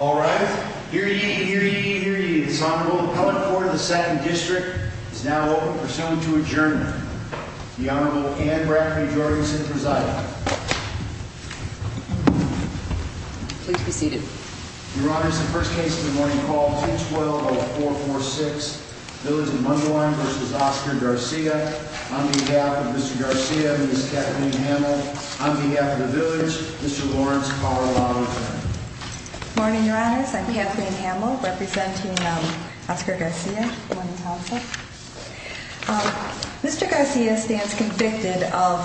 All rise. Hear ye, hear ye, hear ye, this Honorable Appellate Court of the Satin District is now open for someone to adjourn. The Honorable Anne Bradford Jorgensen presiding. Please be seated. Your Honor, this is the first case of the morning called 212-446, Village of Mundelin v. Oscar Garcia. On behalf of Mr. Garcia and Ms. Kathleen Hamel, on behalf of the village, Mr. Lawrence Carlisle. Good morning, Your Honors. I'm Kathleen Hamel, representing Oscar Garcia. Mr. Garcia stands convicted of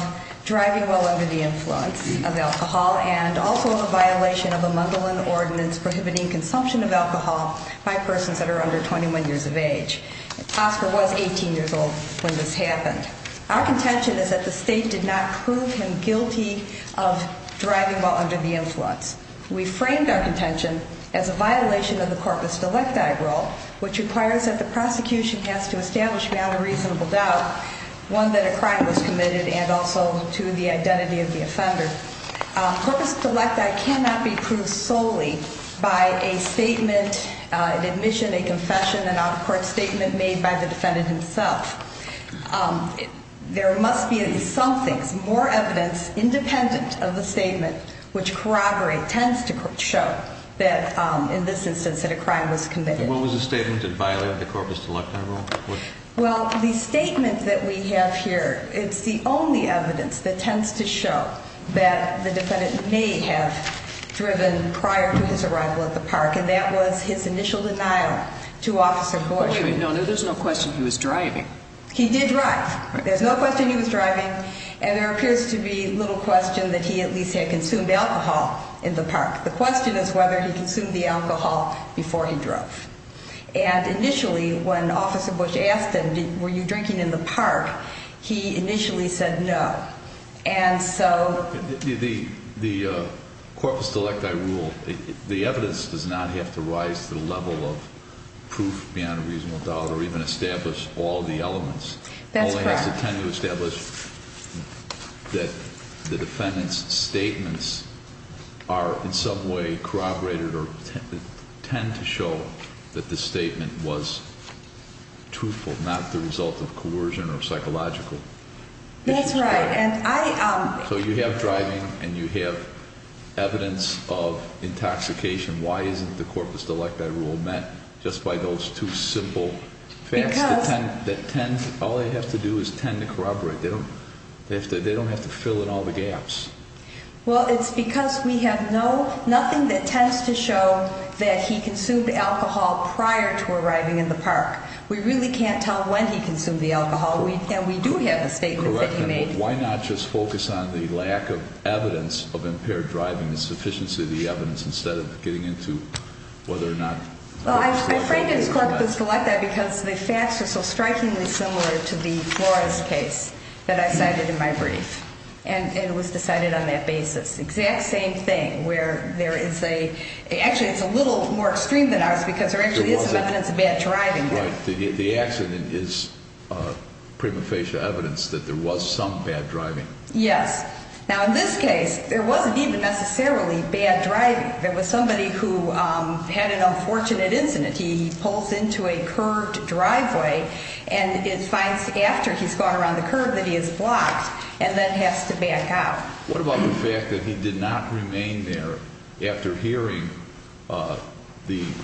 driving while under the influence of alcohol and also a violation of a Mundelin ordinance prohibiting consumption of alcohol by persons that are under 21 years of age. Oscar was 18 years old when this happened. Our contention is that the state did not prove him guilty of driving while under the influence. We framed our contention as a violation of the corpus delecti rule, which requires that the prosecution has to establish without a reasonable doubt one that a crime was committed and also to the identity of the offender. Corpus delecti cannot be proved solely by a statement, an admission, a confession, an out-of-court statement made by the defendant himself. There must be in some things more evidence independent of the statement, which corroborate, tends to show that in this instance that a crime was committed. What was the statement that violated the corpus delecti rule? Well, the statement that we have here, it's the only evidence that tends to show that the defendant may have driven prior to his arrival at the park, and that was his initial denial to Officer Bush. Wait, no, there's no question he was driving. He did drive. There's no question he was driving, and there appears to be little question that he at least had consumed alcohol in the park. The question is whether he consumed the alcohol before he drove. And initially when Officer Bush asked him, were you drinking in the park, he initially said no. The corpus delecti rule, the evidence does not have to rise to the level of proof beyond a reasonable doubt or even establish all the elements. That's correct. It only has to tend to establish that the defendant's statements are in some way corroborated or tend to show that the statement was truthful, not the result of coercion or psychological. That's right. So you have driving and you have evidence of intoxication. Why isn't the corpus delecti rule met just by those two simple facts that all they have to do is tend to corroborate? They don't have to fill in all the gaps. Well, it's because we have nothing that tends to show that he consumed alcohol prior to arriving in the park. We really can't tell when he consumed the alcohol, and we do have a statement that he made. Correct. And why not just focus on the lack of evidence of impaired driving, the sufficiency of the evidence instead of getting into whether or not he consumed the alcohol? Well, I framed his corpus delecti because the facts are so strikingly similar to the Flores case that I cited in my brief, and it was decided on that basis. The exact same thing where there is a, actually it's a little more extreme than ours because there actually is evidence of bad driving there. The accident is prima facie evidence that there was some bad driving. Yes. Now, in this case, there wasn't even necessarily bad driving. There was somebody who had an unfortunate incident. He pulls into a curved driveway, and it finds after he's gone around the curve that he is blocked and then has to back out. What about the fact that he did not remain there after hearing the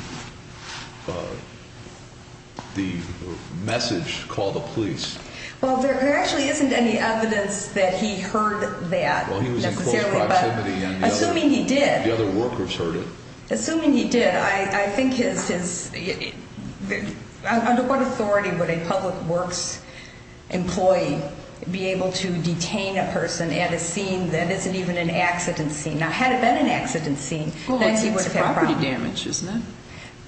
message, call the police? Well, there actually isn't any evidence that he heard that necessarily. Well, he was in close proximity. Assuming he did. The other workers heard it. Assuming he did. I think his, under what authority would a public works employee be able to detain a person at a scene that isn't even an accident scene? Now, had it been an accident scene, then he would have had a problem. Well, it's property damage, isn't it?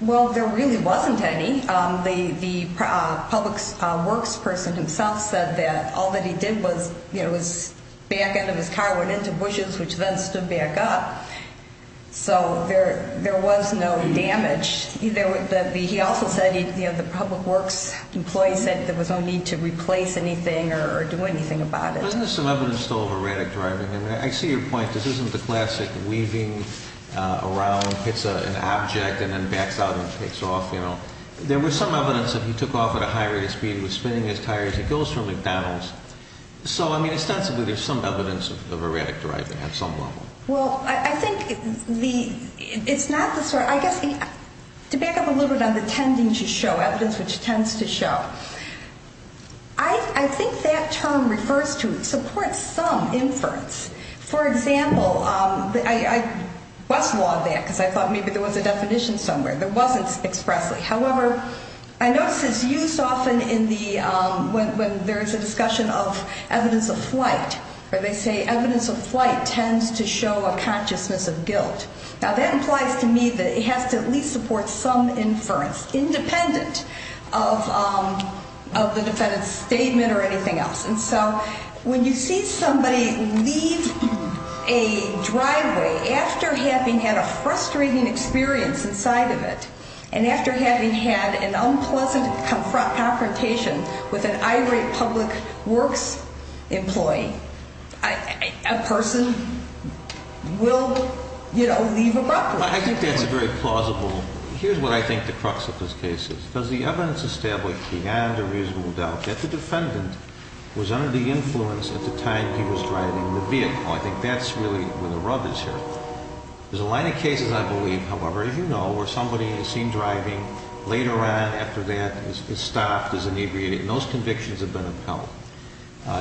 Well, there really wasn't any. The public works person himself said that all that he did was back out of his car, went into bushes, which then stood back up. So there was no damage. He also said the public works employee said there was no need to replace anything or do anything about it. Isn't there some evidence still of erratic driving? I see your point. This isn't the classic weaving around, hits an object, and then backs out and takes off. There was some evidence that he took off at a high rate of speed. He was spinning his tires. He goes for McDonald's. So, I mean, ostensibly there's some evidence of erratic driving at some level. Well, I think it's not the sort of, I guess, to back up a little bit on the tending to show, evidence which tends to show, I think that term refers to support some inference. For example, I bust law on that because I thought maybe there was a definition somewhere. There wasn't expressly. However, I notice it's used often in the, when there's a discussion of evidence of flight, where they say evidence of flight tends to show a consciousness of guilt. Now, that implies to me that it has to at least support some inference, independent of the defendant's statement or anything else. And so when you see somebody leave a driveway after having had a frustrating experience inside of it and after having had an unpleasant confrontation with an irate public works employee, a person will, you know, leave a driveway. I think that's very plausible. Here's what I think the crux of this case is. Because the evidence established beyond a reasonable doubt that the defendant was under the influence at the time he was driving the vehicle. I think that's really where the rub is here. There's a line of cases, I believe, however, as you know, where somebody is seen driving, later on after that is stopped, is inebriated. Most convictions have been upheld.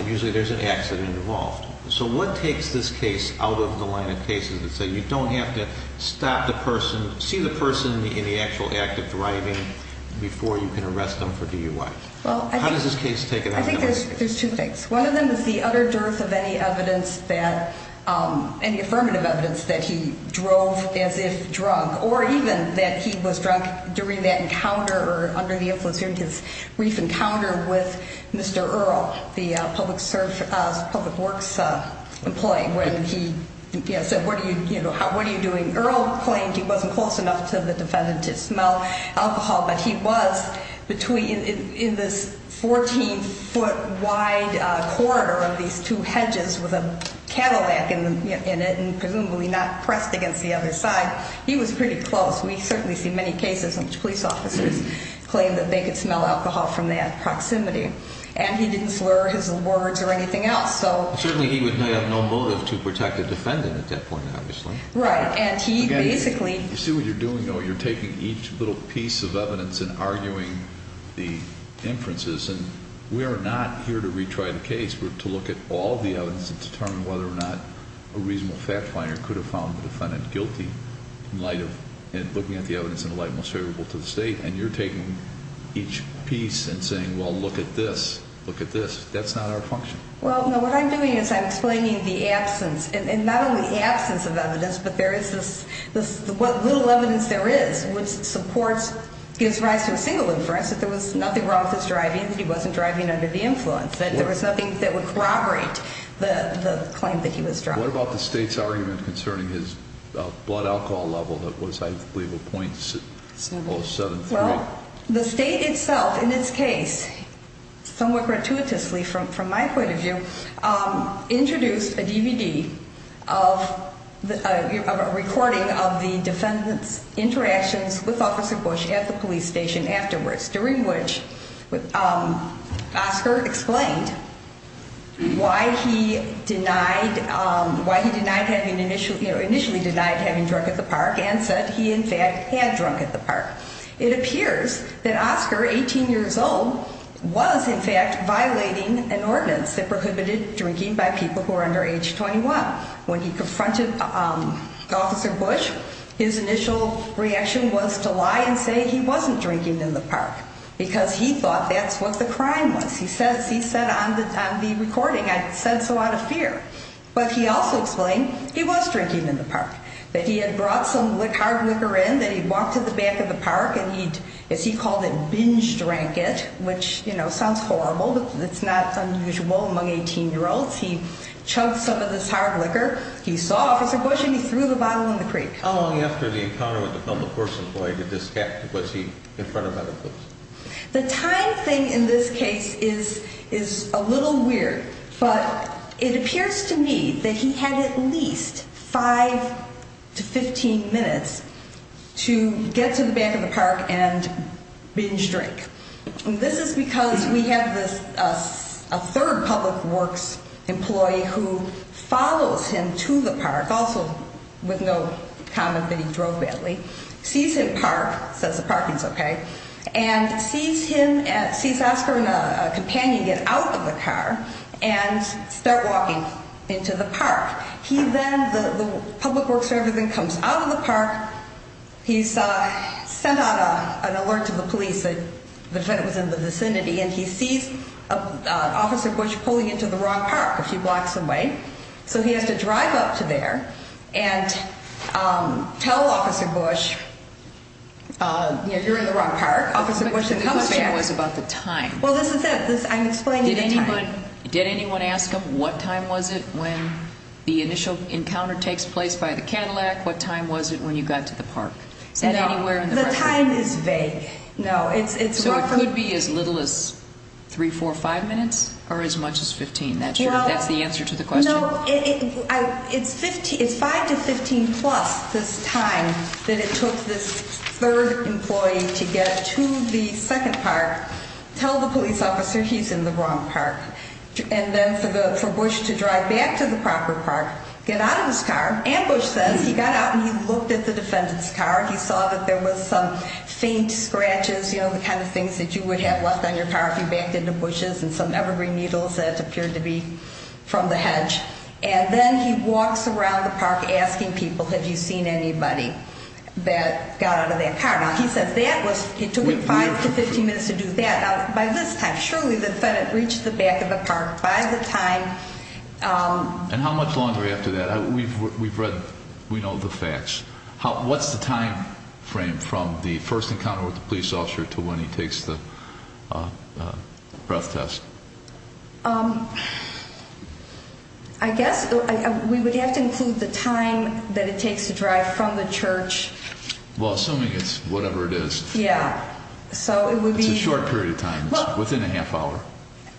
Usually there's an accident involved. So what takes this case out of the line of cases that say you don't have to stop the person, see the person in the actual act of driving before you can arrest them for DUI? How does this case take it out of that? I think there's two things. One of them is the utter dearth of any evidence that, any affirmative evidence that he drove as if drunk or even that he was drunk during that encounter or under the influence during his brief encounter with Mr. Earle, the public works employee, when he said, what are you doing? Earle claimed he wasn't close enough to the defendant to smell alcohol, but he was in this 14-foot wide corridor of these two hedges with a cattleback in it and presumably not pressed against the other side. He was pretty close. We certainly see many cases in which police officers claim that they could smell alcohol from that proximity. And he didn't slur his words or anything else. Certainly he would have no motive to protect a defendant at that point, obviously. Right. You see what you're doing, though? You're taking each little piece of evidence and arguing the inferences. And we are not here to retry the case. We're to look at all the evidence and determine whether or not a reasonable fact finder could have found the defendant guilty in looking at the evidence in a light most favorable to the state. And you're taking each piece and saying, well, look at this, look at this. That's not our function. Well, no, what I'm doing is I'm explaining the absence, and not only the absence of evidence, but there is this little evidence there is which supports, gives rise to a single inference, that there was nothing wrong with his driving, that he wasn't driving under the influence, that there was nothing that would corroborate the claim that he was driving. What about the state's argument concerning his blood alcohol level that was, I believe, a .073? Well, the state itself, in its case, somewhat gratuitously from my point of view, introduced a DVD of a recording of the defendant's interactions with Officer Bush at the police station afterwards, during which Oscar explained why he initially denied having drunk at the park and said he, in fact, had drunk at the park. It appears that Oscar, 18 years old, was, in fact, violating an ordinance that prohibited drinking by people who are under age 21. When he confronted Officer Bush, his initial reaction was to lie and say he wasn't drinking in the park because he thought that's what the crime was. He said on the recording, I said so out of fear. But he also explained he was drinking in the park, that he had brought some hard liquor in, that he'd walked to the back of the park and he'd, as he called it, binge drank it, which, you know, sounds horrible, but it's not unusual among 18-year-olds. He chugged some of this hard liquor. He saw Officer Bush, and he threw the bottle in the creek. How long after the encounter with the public works employee did this happen? Was he confronted by the police? The time thing in this case is a little weird, but it appears to me that he had at least 5 to 15 minutes to get to the back of the park and binge drink. This is because we have a third public works employee who follows him to the park, also with no comment that he drove badly, sees him park, says the parking's okay, and sees him, sees Oscar and a companion get out of the car and start walking into the park. He then, the public works representative comes out of the park. He's sent out an alert to the police that it was in the vicinity, and he sees Officer Bush pulling into the wrong park a few blocks away. So he has to drive up to there and tell Officer Bush, you're in the wrong park, Officer Bush should come to town. What I'm saying was about the time. Well, this is it. I'm explaining the time. Did anyone ask him what time was it when the initial encounter takes place by the Cadillac? What time was it when you got to the park? No, the time is vague. So it could be as little as 3, 4, 5 minutes, or as much as 15. That's the answer to the question? So it's 5 to 15 plus this time that it took this third employee to get to the second park, tell the police officer he's in the wrong park, and then for Bush to drive back to the proper park, get out of his car, ambush them. He got out and he looked at the defendant's car. He saw that there was some faint scratches, you know, the kind of things that you would have left on your car if you backed into bushes and some evergreen needles that appeared to be from the hedge. And then he walks around the park asking people, have you seen anybody that got out of that car? Now, he says that was, it took him 5 to 15 minutes to do that. Now, by this time, surely the defendant reached the back of the park by the time. And how much longer after that? We've read, we know the facts. What's the time frame from the first encounter with the police officer to when he takes the breath test? I guess we would have to include the time that it takes to drive from the church. Well, assuming it's whatever it is. Yeah. It's a short period of time. It's within a half hour.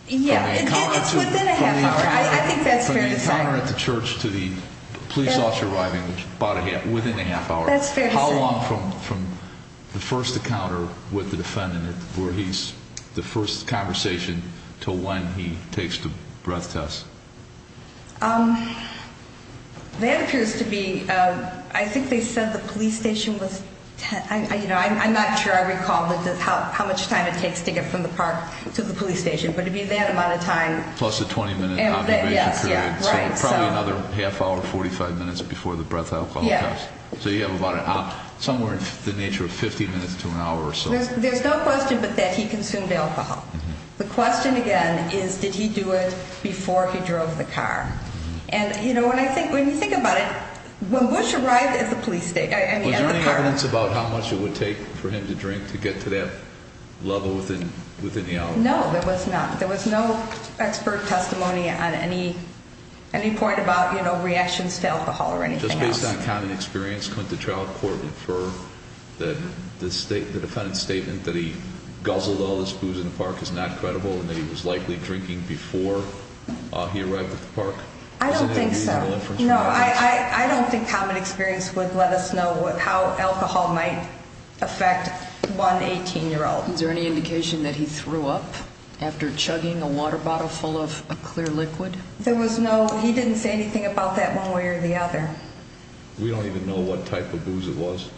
Yeah, it's within a half hour. I think that's fair to say. The encounter at the church to the police officer arriving within a half hour. That's fair to say. How long from the first encounter with the defendant where he's, the first conversation to when he takes the breath test? That appears to be, I think they said the police station was, you know, I'm not sure I recall how much time it takes to get from the park to the police station. But it would be that amount of time. Plus the 20-minute observation period. Yeah, right. So probably another half hour, 45 minutes before the breath alcohol test. Yeah. So you have about somewhere in the nature of 50 minutes to an hour or so. There's no question but that he consumed alcohol. The question, again, is did he do it before he drove the car? And, you know, when you think about it, when Bush arrived at the police station, at the park. Was there any evidence about how much it would take for him to drink to get to that level within the hour? No, there was not. No expert testimony on any point about, you know, reactions to alcohol or anything else. Just based on common experience, couldn't the trial court infer that the defendant's statement that he guzzled all his booze in the park is not credible, and that he was likely drinking before he arrived at the park? I don't think so. Was there any reasonable inference from that? No, I don't think common experience would let us know how alcohol might affect one 18-year-old. Is there any indication that he threw up after chugging a water bottle full of a clear liquid? There was no, he didn't say anything about that one way or the other. We don't even know what type of booze it was.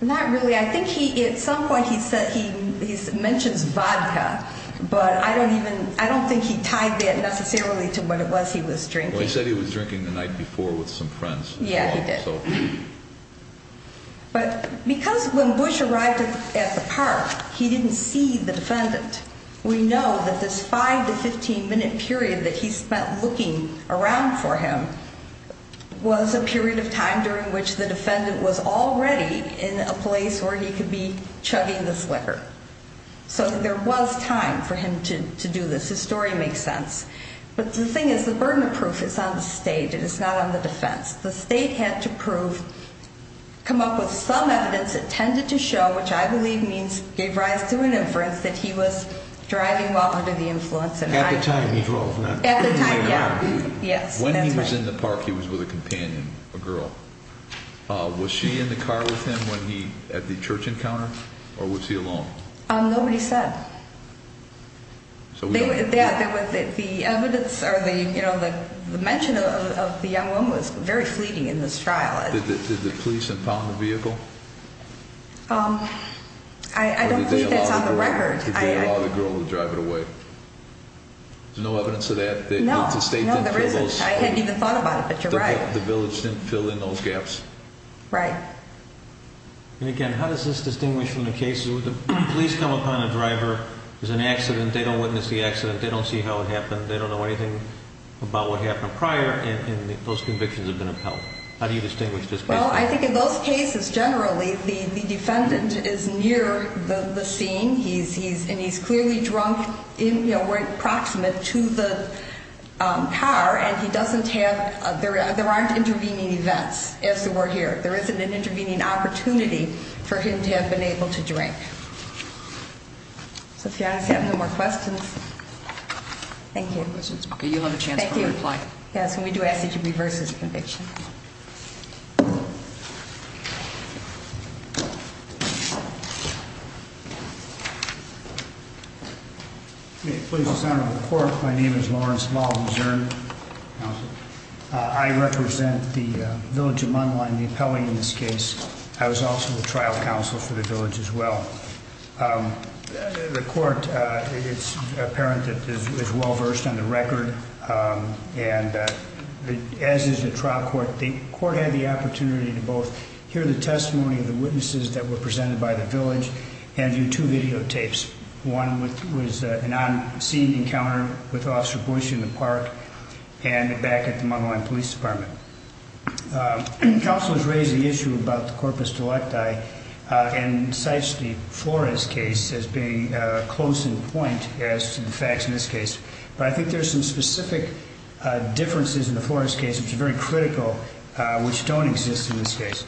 Not really. I think he, at some point he said he mentions vodka, but I don't even, I don't think he tied that necessarily to what it was he was drinking. Well, he said he was drinking the night before with some friends. Yeah, he did. But because when Bush arrived at the park, he didn't see the defendant, we know that this 5-15 minute period that he spent looking around for him was a period of time during which the defendant was already in a place where he could be chugging this liquor. So there was time for him to do this. His story makes sense. But the thing is, the burden of proof is on the state. It is not on the defense. The state had to prove, come up with some evidence that tended to show, which I believe means gave rise to an inference that he was driving while under the influence. At the time he drove. At the time, yeah. When he was in the park, he was with a companion, a girl. Was she in the car with him at the church encounter, or was he alone? Nobody said. Yeah, the evidence or the mention of the young woman was very fleeting in this trial. Did the police impound the vehicle? I don't think that's on the record. Did they allow the girl to drive it away? There's no evidence of that? No. I hadn't even thought about it, but you're right. The village didn't fill in those gaps? Right. And again, how does this distinguish from the cases? The police come upon a driver. There's an accident. They don't witness the accident. They don't see how it happened. They don't know anything about what happened prior, and those convictions have been upheld. How do you distinguish this case? Well, I think in those cases, generally, the defendant is near the scene, and he's clearly drunk, approximate, to the car, and there aren't intervening events, as there were here. There isn't an intervening opportunity for him to have been able to drink. So if you guys have no more questions. Thank you. Okay, you'll have a chance to reply. Thank you. Yes, and we do ask that you reverse this conviction. Please, Mr. Senator, the court. My name is Lawrence Maldon Zurn. I represent the village of Munlaw in the appellate in this case. I was also the trial counsel for the village as well. The court, it's apparent, is well-versed on the record, as is the trial court. The court had the opportunity to both hear the testimony of the witnesses that were presented by the village and do two videotapes. One was an on-scene encounter with Officer Bush in the park and back at the Munlaw Police Department. Counsel has raised the issue about the corpus delicti and cites the Flores case as being close in point as to the facts in this case. But I think there are some specific differences in the Flores case, which are very critical, which don't exist in this case.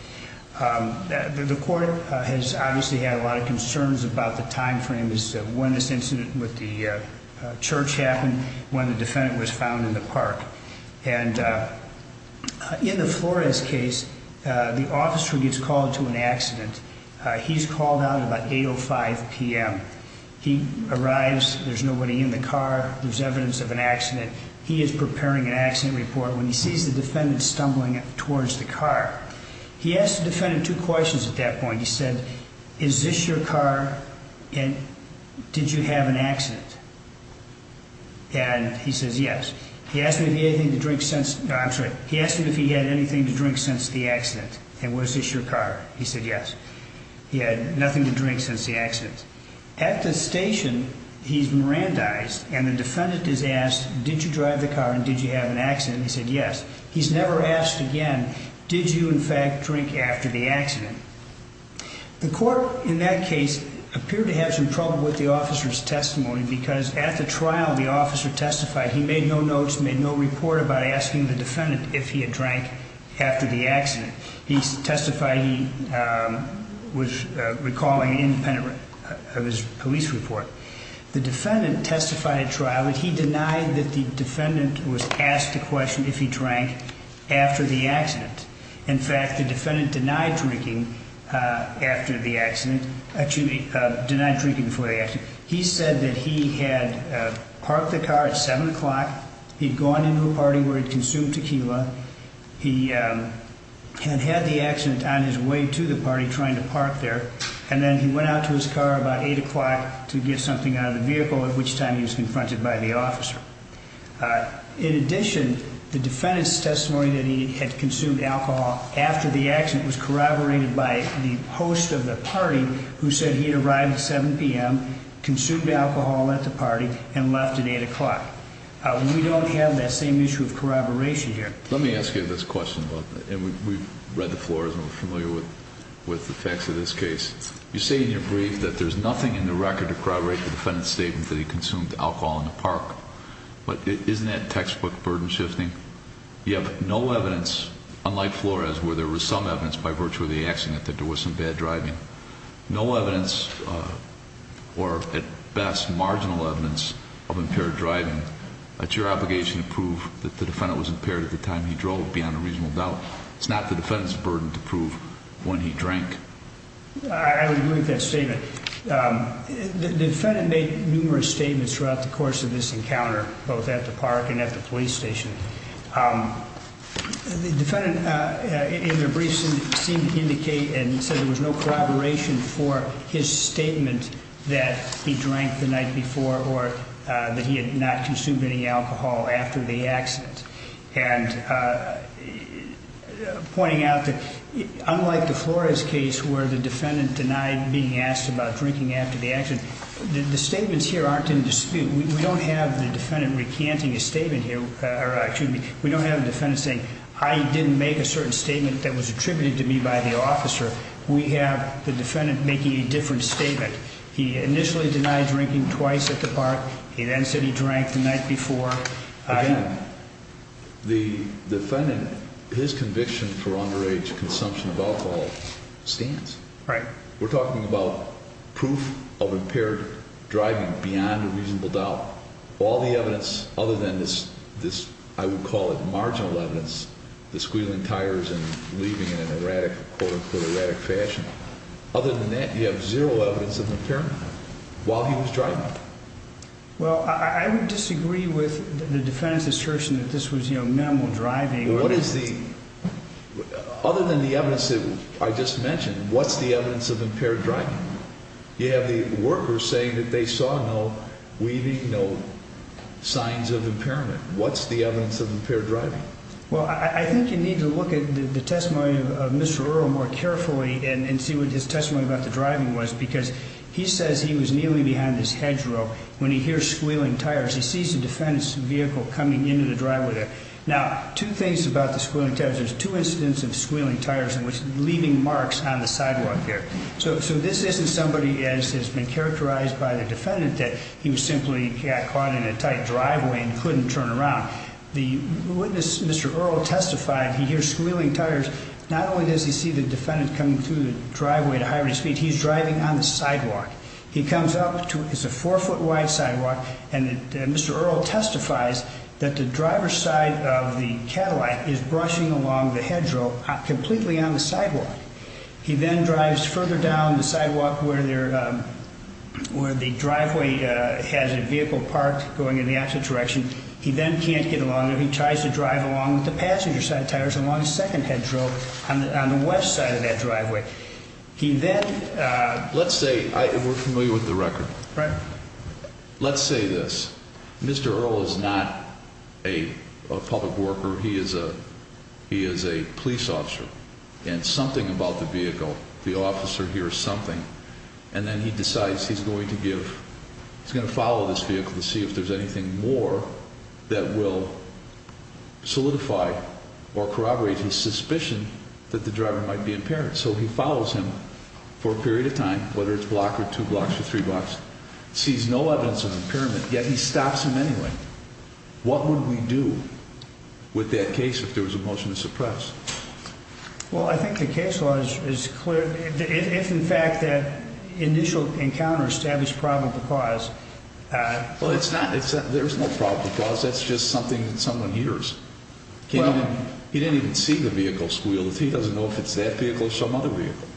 The court has obviously had a lot of concerns about the timeframe as to when this incident with the church happened, when the defendant was found in the park. And in the Flores case, the officer gets called to an accident. He's called out about 8.05 p.m. He arrives. There's nobody in the car. There's evidence of an accident. He is preparing an accident report when he sees the defendant stumbling towards the car. He asks the defendant two questions at that point. He said, is this your car and did you have an accident? And he says, yes. He asked him if he had anything to drink since the accident. And was this your car? He said, yes. He had nothing to drink since the accident. At the station, he's Mirandized and the defendant is asked, did you drive the car and did you have an accident? He said, yes. He's never asked again, did you, in fact, drink after the accident? The court in that case appeared to have some trouble with the officer's testimony because at the trial, the officer testified he made no notes, made no report about asking the defendant if he had drank after the accident. He testified he was recalling an independent of his police report. The defendant testified at trial that he denied that the defendant was asked the question if he drank after the accident. In fact, the defendant denied drinking after the accident. Actually, denied drinking before the accident. He said that he had parked the car at 7 o'clock. He had gone into a party where he consumed tequila. He had had the accident on his way to the party trying to park there, and then he went out to his car about 8 o'clock to get something out of the vehicle, at which time he was confronted by the officer. In addition, the defendant's testimony that he had consumed alcohol after the accident was corroborated by the host of the party who said he had arrived at 7 p.m., consumed alcohol at the party, and left at 8 o'clock. We don't have that same issue of corroboration here. Let me ask you this question, and we've read the floor and we're familiar with the facts of this case. You say in your brief that there's nothing in the record to corroborate the defendant's statement that he consumed alcohol in the park, but isn't that textbook burden shifting? You have no evidence, unlike Flores, where there was some evidence by virtue of the accident that there was some bad driving. No evidence, or at best marginal evidence, of impaired driving. That's your obligation to prove that the defendant was impaired at the time he drove, beyond a reasonable doubt. It's not the defendant's burden to prove when he drank. I would agree with that statement. The defendant made numerous statements throughout the course of this encounter, both at the park and at the police station. The defendant, in their brief, seemed to indicate and said there was no corroboration for his statement that he drank the night before or that he had not consumed any alcohol after the accident. And pointing out that, unlike the Flores case where the defendant denied being asked about drinking after the accident, the statements here aren't in dispute. We don't have the defendant recanting his statement here. We don't have the defendant saying, I didn't make a certain statement that was attributed to me by the officer. We have the defendant making a different statement. He initially denied drinking twice at the park. He then said he drank the night before. Again, the defendant, his conviction for underage consumption of alcohol stands. Right. We're talking about proof of impaired driving beyond a reasonable doubt. All the evidence other than this, I would call it marginal evidence, the squealing tires and leaving in an erratic, quote, unquote, erratic fashion. Other than that, you have zero evidence of impairment while he was driving. Well, I would disagree with the defendant's assertion that this was minimal driving. What is the, other than the evidence that I just mentioned, what's the evidence of impaired driving? You have the workers saying that they saw no weaving, no signs of impairment. What's the evidence of impaired driving? Well, I think you need to look at the testimony of Mr. Earl more carefully and see what his testimony about the driving was because he says he was nearly behind this hedgerow when he hears squealing tires. He sees the defendant's vehicle coming into the driveway there. Now, two things about the squealing tires. There's two incidents of squealing tires, leaving marks on the sidewalk here. So this isn't somebody as has been characterized by the defendant that he simply got caught in a tight driveway and couldn't turn around. The witness, Mr. Earl, testified he hears squealing tires. Not only does he see the defendant coming through the driveway at a high rate of speed, he's driving on the sidewalk. He comes up to, it's a four-foot wide sidewalk, and Mr. Earl testifies that the driver's side of the Cadillac is brushing along the hedgerow completely on the sidewalk. He then drives further down the sidewalk where the driveway has a vehicle parked going in the opposite direction. He then can't get along there. He tries to drive along with the passenger's side of the tires along the second hedgerow on the west side of that driveway. He then... Let's say, we're familiar with the record. Right. Let's say this. Mr. Earl is not a public worker. He is a police officer. And something about the vehicle, the officer hears something, and then he decides he's going to give, he's going to follow this vehicle to see if there's anything more that will solidify or corroborate his suspicion that the driver might be impaired. So he follows him for a period of time, whether it's a block or two blocks or three blocks, sees no evidence of impairment, yet he stops him anyway. What would we do with that case if there was a motion to suppress? Well, I think the case law is clear. If, in fact, that initial encounter established probable cause... Well, it's not that there's no probable cause. That's just something that someone hears. He didn't even see the vehicle squeal. He doesn't know if it's that vehicle or some other vehicle.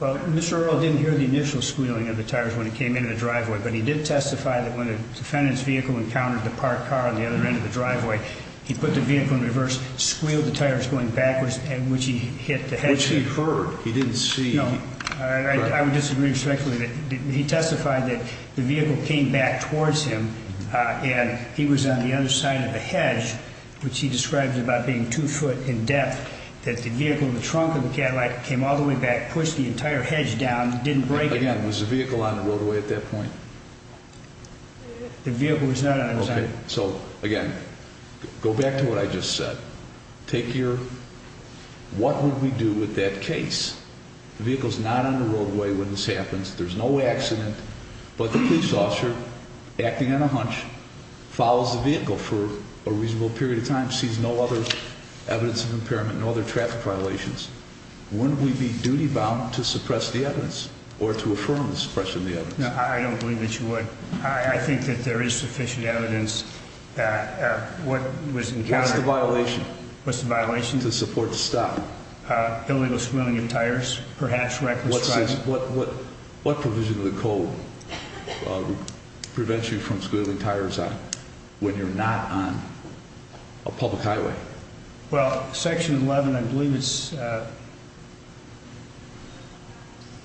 Well, Mr. Earl didn't hear the initial squealing of the tires when it came into the driveway, but he did testify that when a defendant's vehicle encountered the parked car on the other end of the driveway, he put the vehicle in reverse, squealed the tires going backwards, which he heard. He didn't see. I would disagree respectfully that he testified that the vehicle came back towards him and he was on the other side of the hedge, which he describes about being two foot in depth, that the vehicle in the trunk of the Cadillac came all the way back, pushed the entire hedge down, didn't break it. Again, was the vehicle on the roadway at that point? The vehicle was not on the side. Okay. So, again, go back to what I just said. Take your what would we do with that case? The vehicle's not on the roadway when this happens. There's no accident, but the police officer, acting on a hunch, follows the vehicle for a reasonable period of time, sees no other evidence of impairment, no other traffic violations. Wouldn't we be duty-bound to suppress the evidence or to affirm the suppression of the evidence? No, I don't believe that you would. I think that there is sufficient evidence. What was encountered? What's the violation? What's the violation? To support the stop. Illegal squealing of tires, perhaps reckless driving. What provision of the code prevents you from squealing tires when you're not on a public highway? Well, Section 11, I believe it's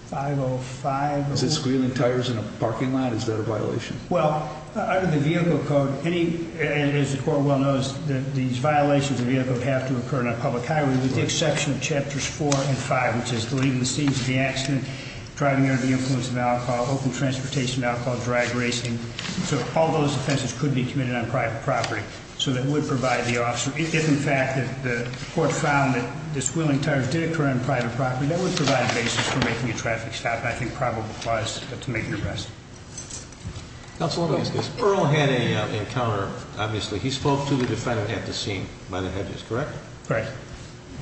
505. Is it squealing tires in a parking lot? Is that a violation? Well, under the vehicle code, as the court well knows, these violations of the vehicle have to occur on a public highway with the exception of Chapters 4 and 5, which is leaving the scenes of the accident, driving under the influence of alcohol, open transportation, alcohol, drag racing. So all those offenses could be committed on private property. So that would provide the officer. If, in fact, the court found that the squealing tires did occur on private property, that would provide a basis for making a traffic stop, and I think probable cause to make an arrest. Counsel, let me ask this. Earl had an encounter, obviously. He spoke to the defendant at the scene by the hedges, correct? Correct.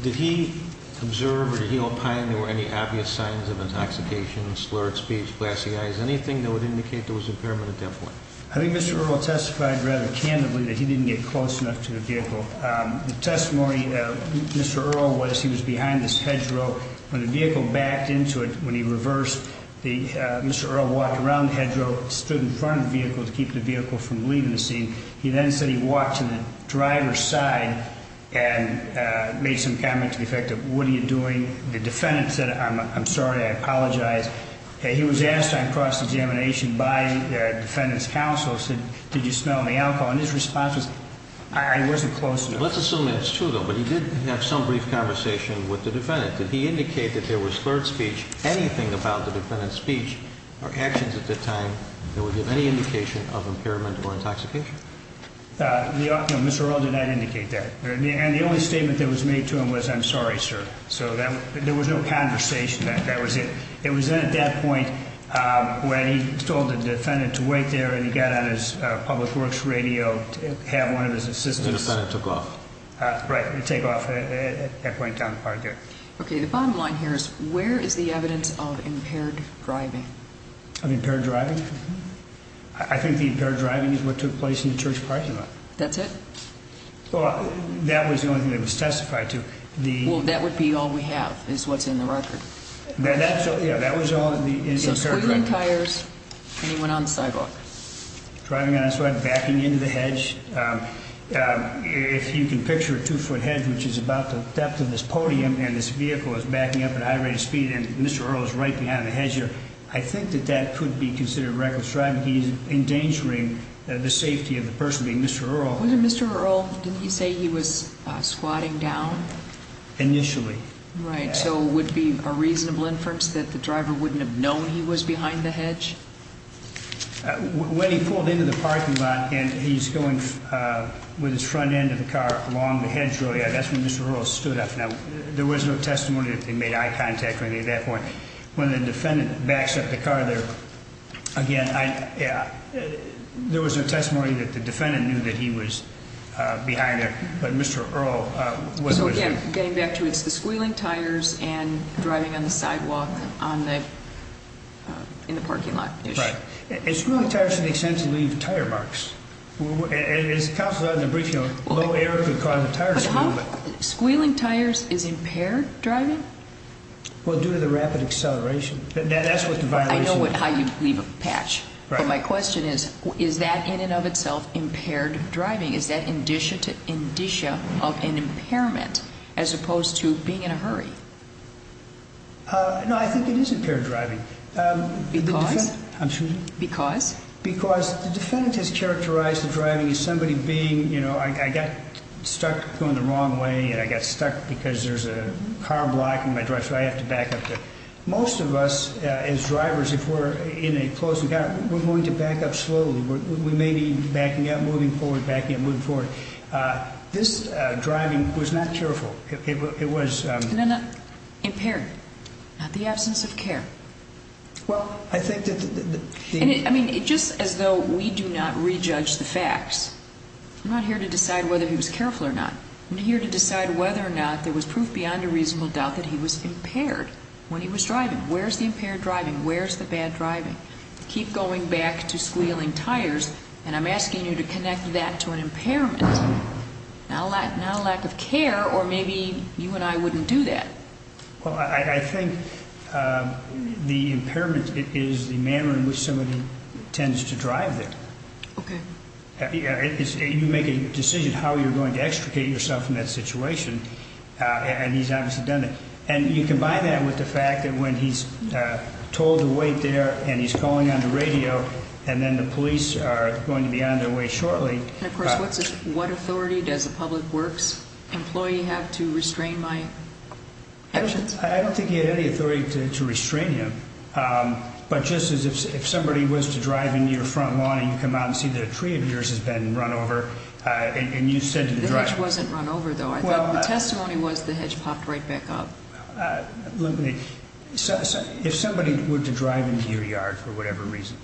Did he observe or do he opine there were any obvious signs of intoxication, slurred speech, glassy eyes, anything that would indicate there was impairment at that point? I think Mr. Earl testified rather candidly that he didn't get close enough to the vehicle. The testimony of Mr. Earl was he was behind this hedgerow. When the vehicle backed into it, when he reversed, Mr. Earl walked around the hedgerow, stood in front of the vehicle to keep the vehicle from leaving the scene. He then said he walked to the driver's side and made some comment to the effect of, what are you doing? The defendant said, I'm sorry, I apologize. He was asked on cross-examination by the defendant's counsel, said, did you smell any alcohol? And his response was, I wasn't close enough. Let's assume that's true, though. But he did have some brief conversation with the defendant. Did he indicate that there was slurred speech, anything about the defendant's speech or actions at that time that would give any indication of impairment or intoxication? No, Mr. Earl did not indicate that. And the only statement that was made to him was, I'm sorry, sir. So there was no conversation. That was it. It was then at that point when he told the defendant to wait there and he got on his public works radio to have one of his assistants. And the defendant took off. Right, he took off at that point down the park there. Okay, the bottom line here is, where is the evidence of impaired driving? Of impaired driving? I think the impaired driving is what took place in the church parking lot. That's it? Well, that was the only thing that was testified to. Well, that would be all we have is what's in the record. Yeah, that was all in the record. He was squeezing tires and he went on the sidewalk. Driving on the sidewalk, backing into the hedge. If you can picture a two-foot hedge, which is about the depth of this podium, and this vehicle is backing up at a high rate of speed and Mr. Earl is right behind the hedger, I think that that could be considered reckless driving. He's endangering the safety of the person being Mr. Earl. Wasn't Mr. Earl, didn't he say he was squatting down? Initially. Right. So would it be a reasonable inference that the driver wouldn't have known he was behind the hedge? When he pulled into the parking lot and he's going with his front end of the car along the hedge, that's when Mr. Earl stood up. Now, there was no testimony that they made eye contact or anything at that point. When the defendant backs up the car there, again, there was no testimony that the defendant knew that he was behind there, but Mr. Earl was. So, again, getting back to it, it's the squealing tires and driving on the sidewalk in the parking lot. Right. And squealing tires should make sense to leave tire marks. As counsel said in the briefing, low air could cause a tire to move. Squealing tires is impaired driving? Well, due to the rapid acceleration. That's what the violation is. I know how you'd leave a patch. But my question is, is that in and of itself impaired driving? Is that indicia of an impairment as opposed to being in a hurry? No, I think it is impaired driving. Because? I'm sorry? Because? Because the defendant has characterized the driving as somebody being, you know, I got stuck going the wrong way and I got stuck because there's a car blocking my drive, so I have to back up. Most of us as drivers, if we're in a closed encounter, we're going to back up slowly. We may be backing up, moving forward, backing up, moving forward. This driving was not careful. It was. No, no, impaired. Not the absence of care. Well, I think that the... I mean, just as though we do not rejudge the facts. I'm not here to decide whether he was careful or not. I'm here to decide whether or not there was proof beyond a reasonable doubt that he was impaired when he was driving. Where's the impaired driving? Where's the bad driving? Keep going back to squealing tires, and I'm asking you to connect that to an impairment, not a lack of care, or maybe you and I wouldn't do that. Well, I think the impairment is the manner in which somebody tends to drive there. Okay. You make a decision how you're going to extricate yourself in that situation, and he's obviously done that. And you combine that with the fact that when he's told to wait there and he's calling on the radio and then the police are going to be on their way shortly. And, of course, what authority does a public works employee have to restrain my actions? I don't think he had any authority to restrain you. But just as if somebody was to drive into your front lawn and you come out and see that a tree of yours has been run over and you said to the driver. The hedge wasn't run over, though. The testimony was the hedge popped right back up. If somebody were to drive into your yard for whatever reason,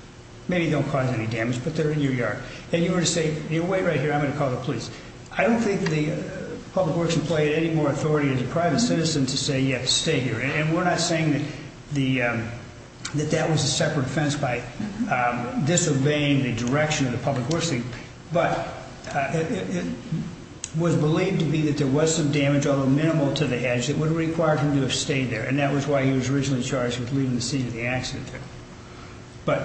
maybe they don't cause any damage, but they're in your yard, and you were to say, wait right here, I'm going to call the police, I don't think the public works employee had any more authority as a private citizen to say you have to stay here. And we're not saying that that was a separate offense by disobeying the direction of the public works thing, but it was believed to be that there was some damage, although minimal, to the hedge that would have required him to have stayed there, and that was why he was originally charged with leaving the scene of the accident there. But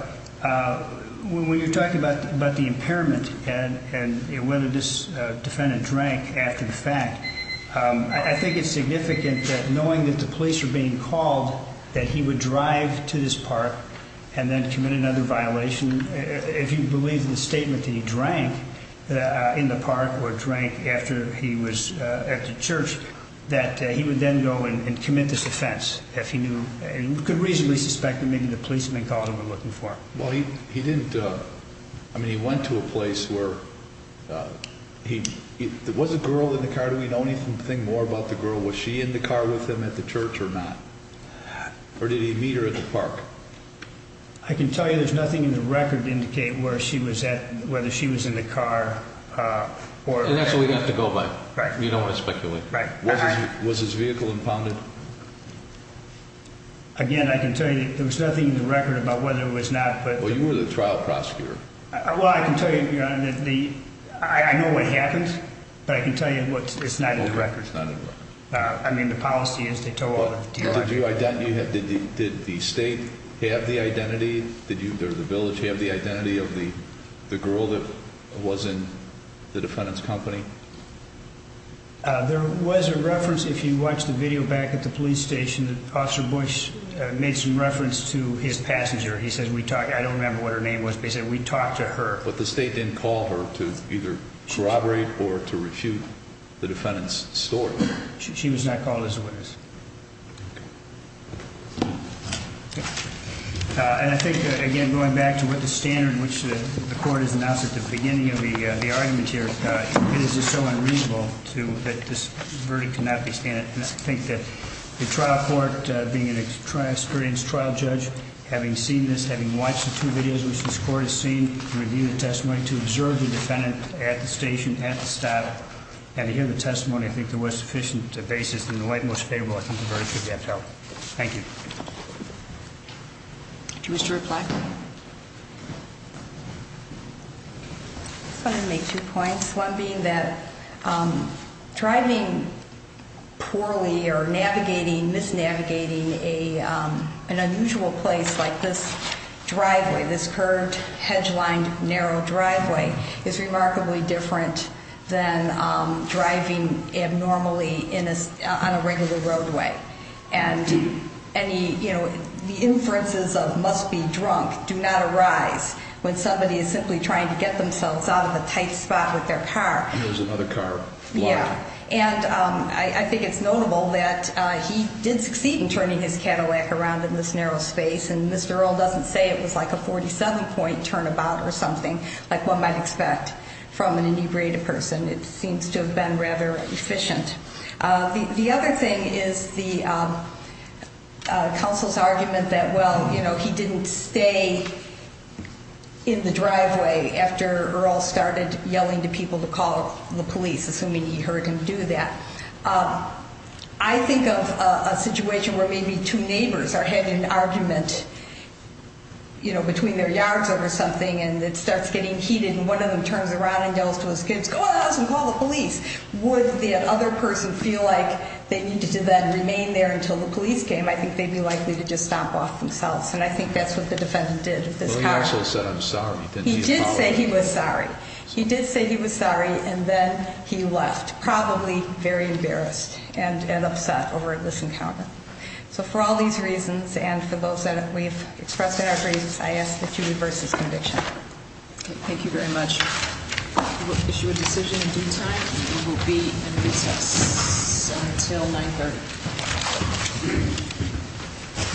when you're talking about the impairment and whether this defendant drank after the fact, I think it's significant that knowing that the police were being called, that he would drive to this park and then commit another violation. If you believe the statement that he drank in the park or drank after he was at the church, that he would then go and commit this offense. You could reasonably suspect that maybe the police had been called and were looking for him. He went to a place where there was a girl in the car. Do we know anything more about the girl? Was she in the car with him at the church or not? Or did he meet her at the park? I can tell you there's nothing in the record to indicate whether she was in the car or not. And that's what we'd have to go by. Right. You don't want to speculate. Right. Was his vehicle impounded? Again, I can tell you there was nothing in the record about whether it was not. Well, you were the trial prosecutor. Well, I can tell you, Your Honor, that I know what happened, but I can tell you it's not in the record. Okay, it's not in the record. I mean, the policy is to tell all the details. Did the state have the identity? Did the village have the identity of the girl that was in the defendant's company? There was a reference, if you watch the video back at the police station, that Officer Bush made some reference to his passenger. He said, I don't remember what her name was, but he said, we talked to her. But the state didn't call her to either corroborate or to refute the defendant's story. She was not called as a witness. And I think, again, going back to what the standard in which the court has announced at the beginning of the argument here, it is just so unreasonable that this verdict cannot be standard. And I think that the trial court, being an experienced trial judge, having seen this, having watched the two videos which this court has seen, reviewed the testimony, to observe the defendant at the station, at the stop, and to hear the testimony, I think there was sufficient basis in the way it was favorable. I think the verdict should be upheld. Thank you. Do you wish to reply? I just wanted to make two points, one being that driving poorly or navigating, misnavigating an unusual place like this driveway, this curved, hedge-lined, narrow driveway, is remarkably different than driving abnormally on a regular roadway. And the inferences of must be drunk do not arise when somebody is simply trying to get themselves out of a tight spot with their car. And there's another car blocking. Yeah. And I think it's notable that he did succeed in turning his Cadillac around in this narrow space. And Mr. Earle doesn't say it was like a 47-point turnabout or something like one might expect from an inebriated person. It seems to have been rather efficient. The other thing is the counsel's argument that, well, you know, he didn't stay in the driveway after Earle started yelling to people to call the police, assuming he heard him do that. I think of a situation where maybe two neighbors are having an argument, you know, between their yards over something and it starts getting heated and one of them turns around and yells to his kids, go out of the house and call the police. Would the other person feel like they needed to then remain there until the police came? I think they'd be likely to just stomp off themselves. And I think that's what the defendant did with his car. Well, he also said, I'm sorry. He did say he was sorry. He did say he was sorry and then he left. Probably very embarrassed and upset over this encounter. So for all these reasons and for those that we've expressed in our briefs, I ask that you reverse this conviction. Thank you very much. We will issue a decision in due time and we will be in recess until 9.30.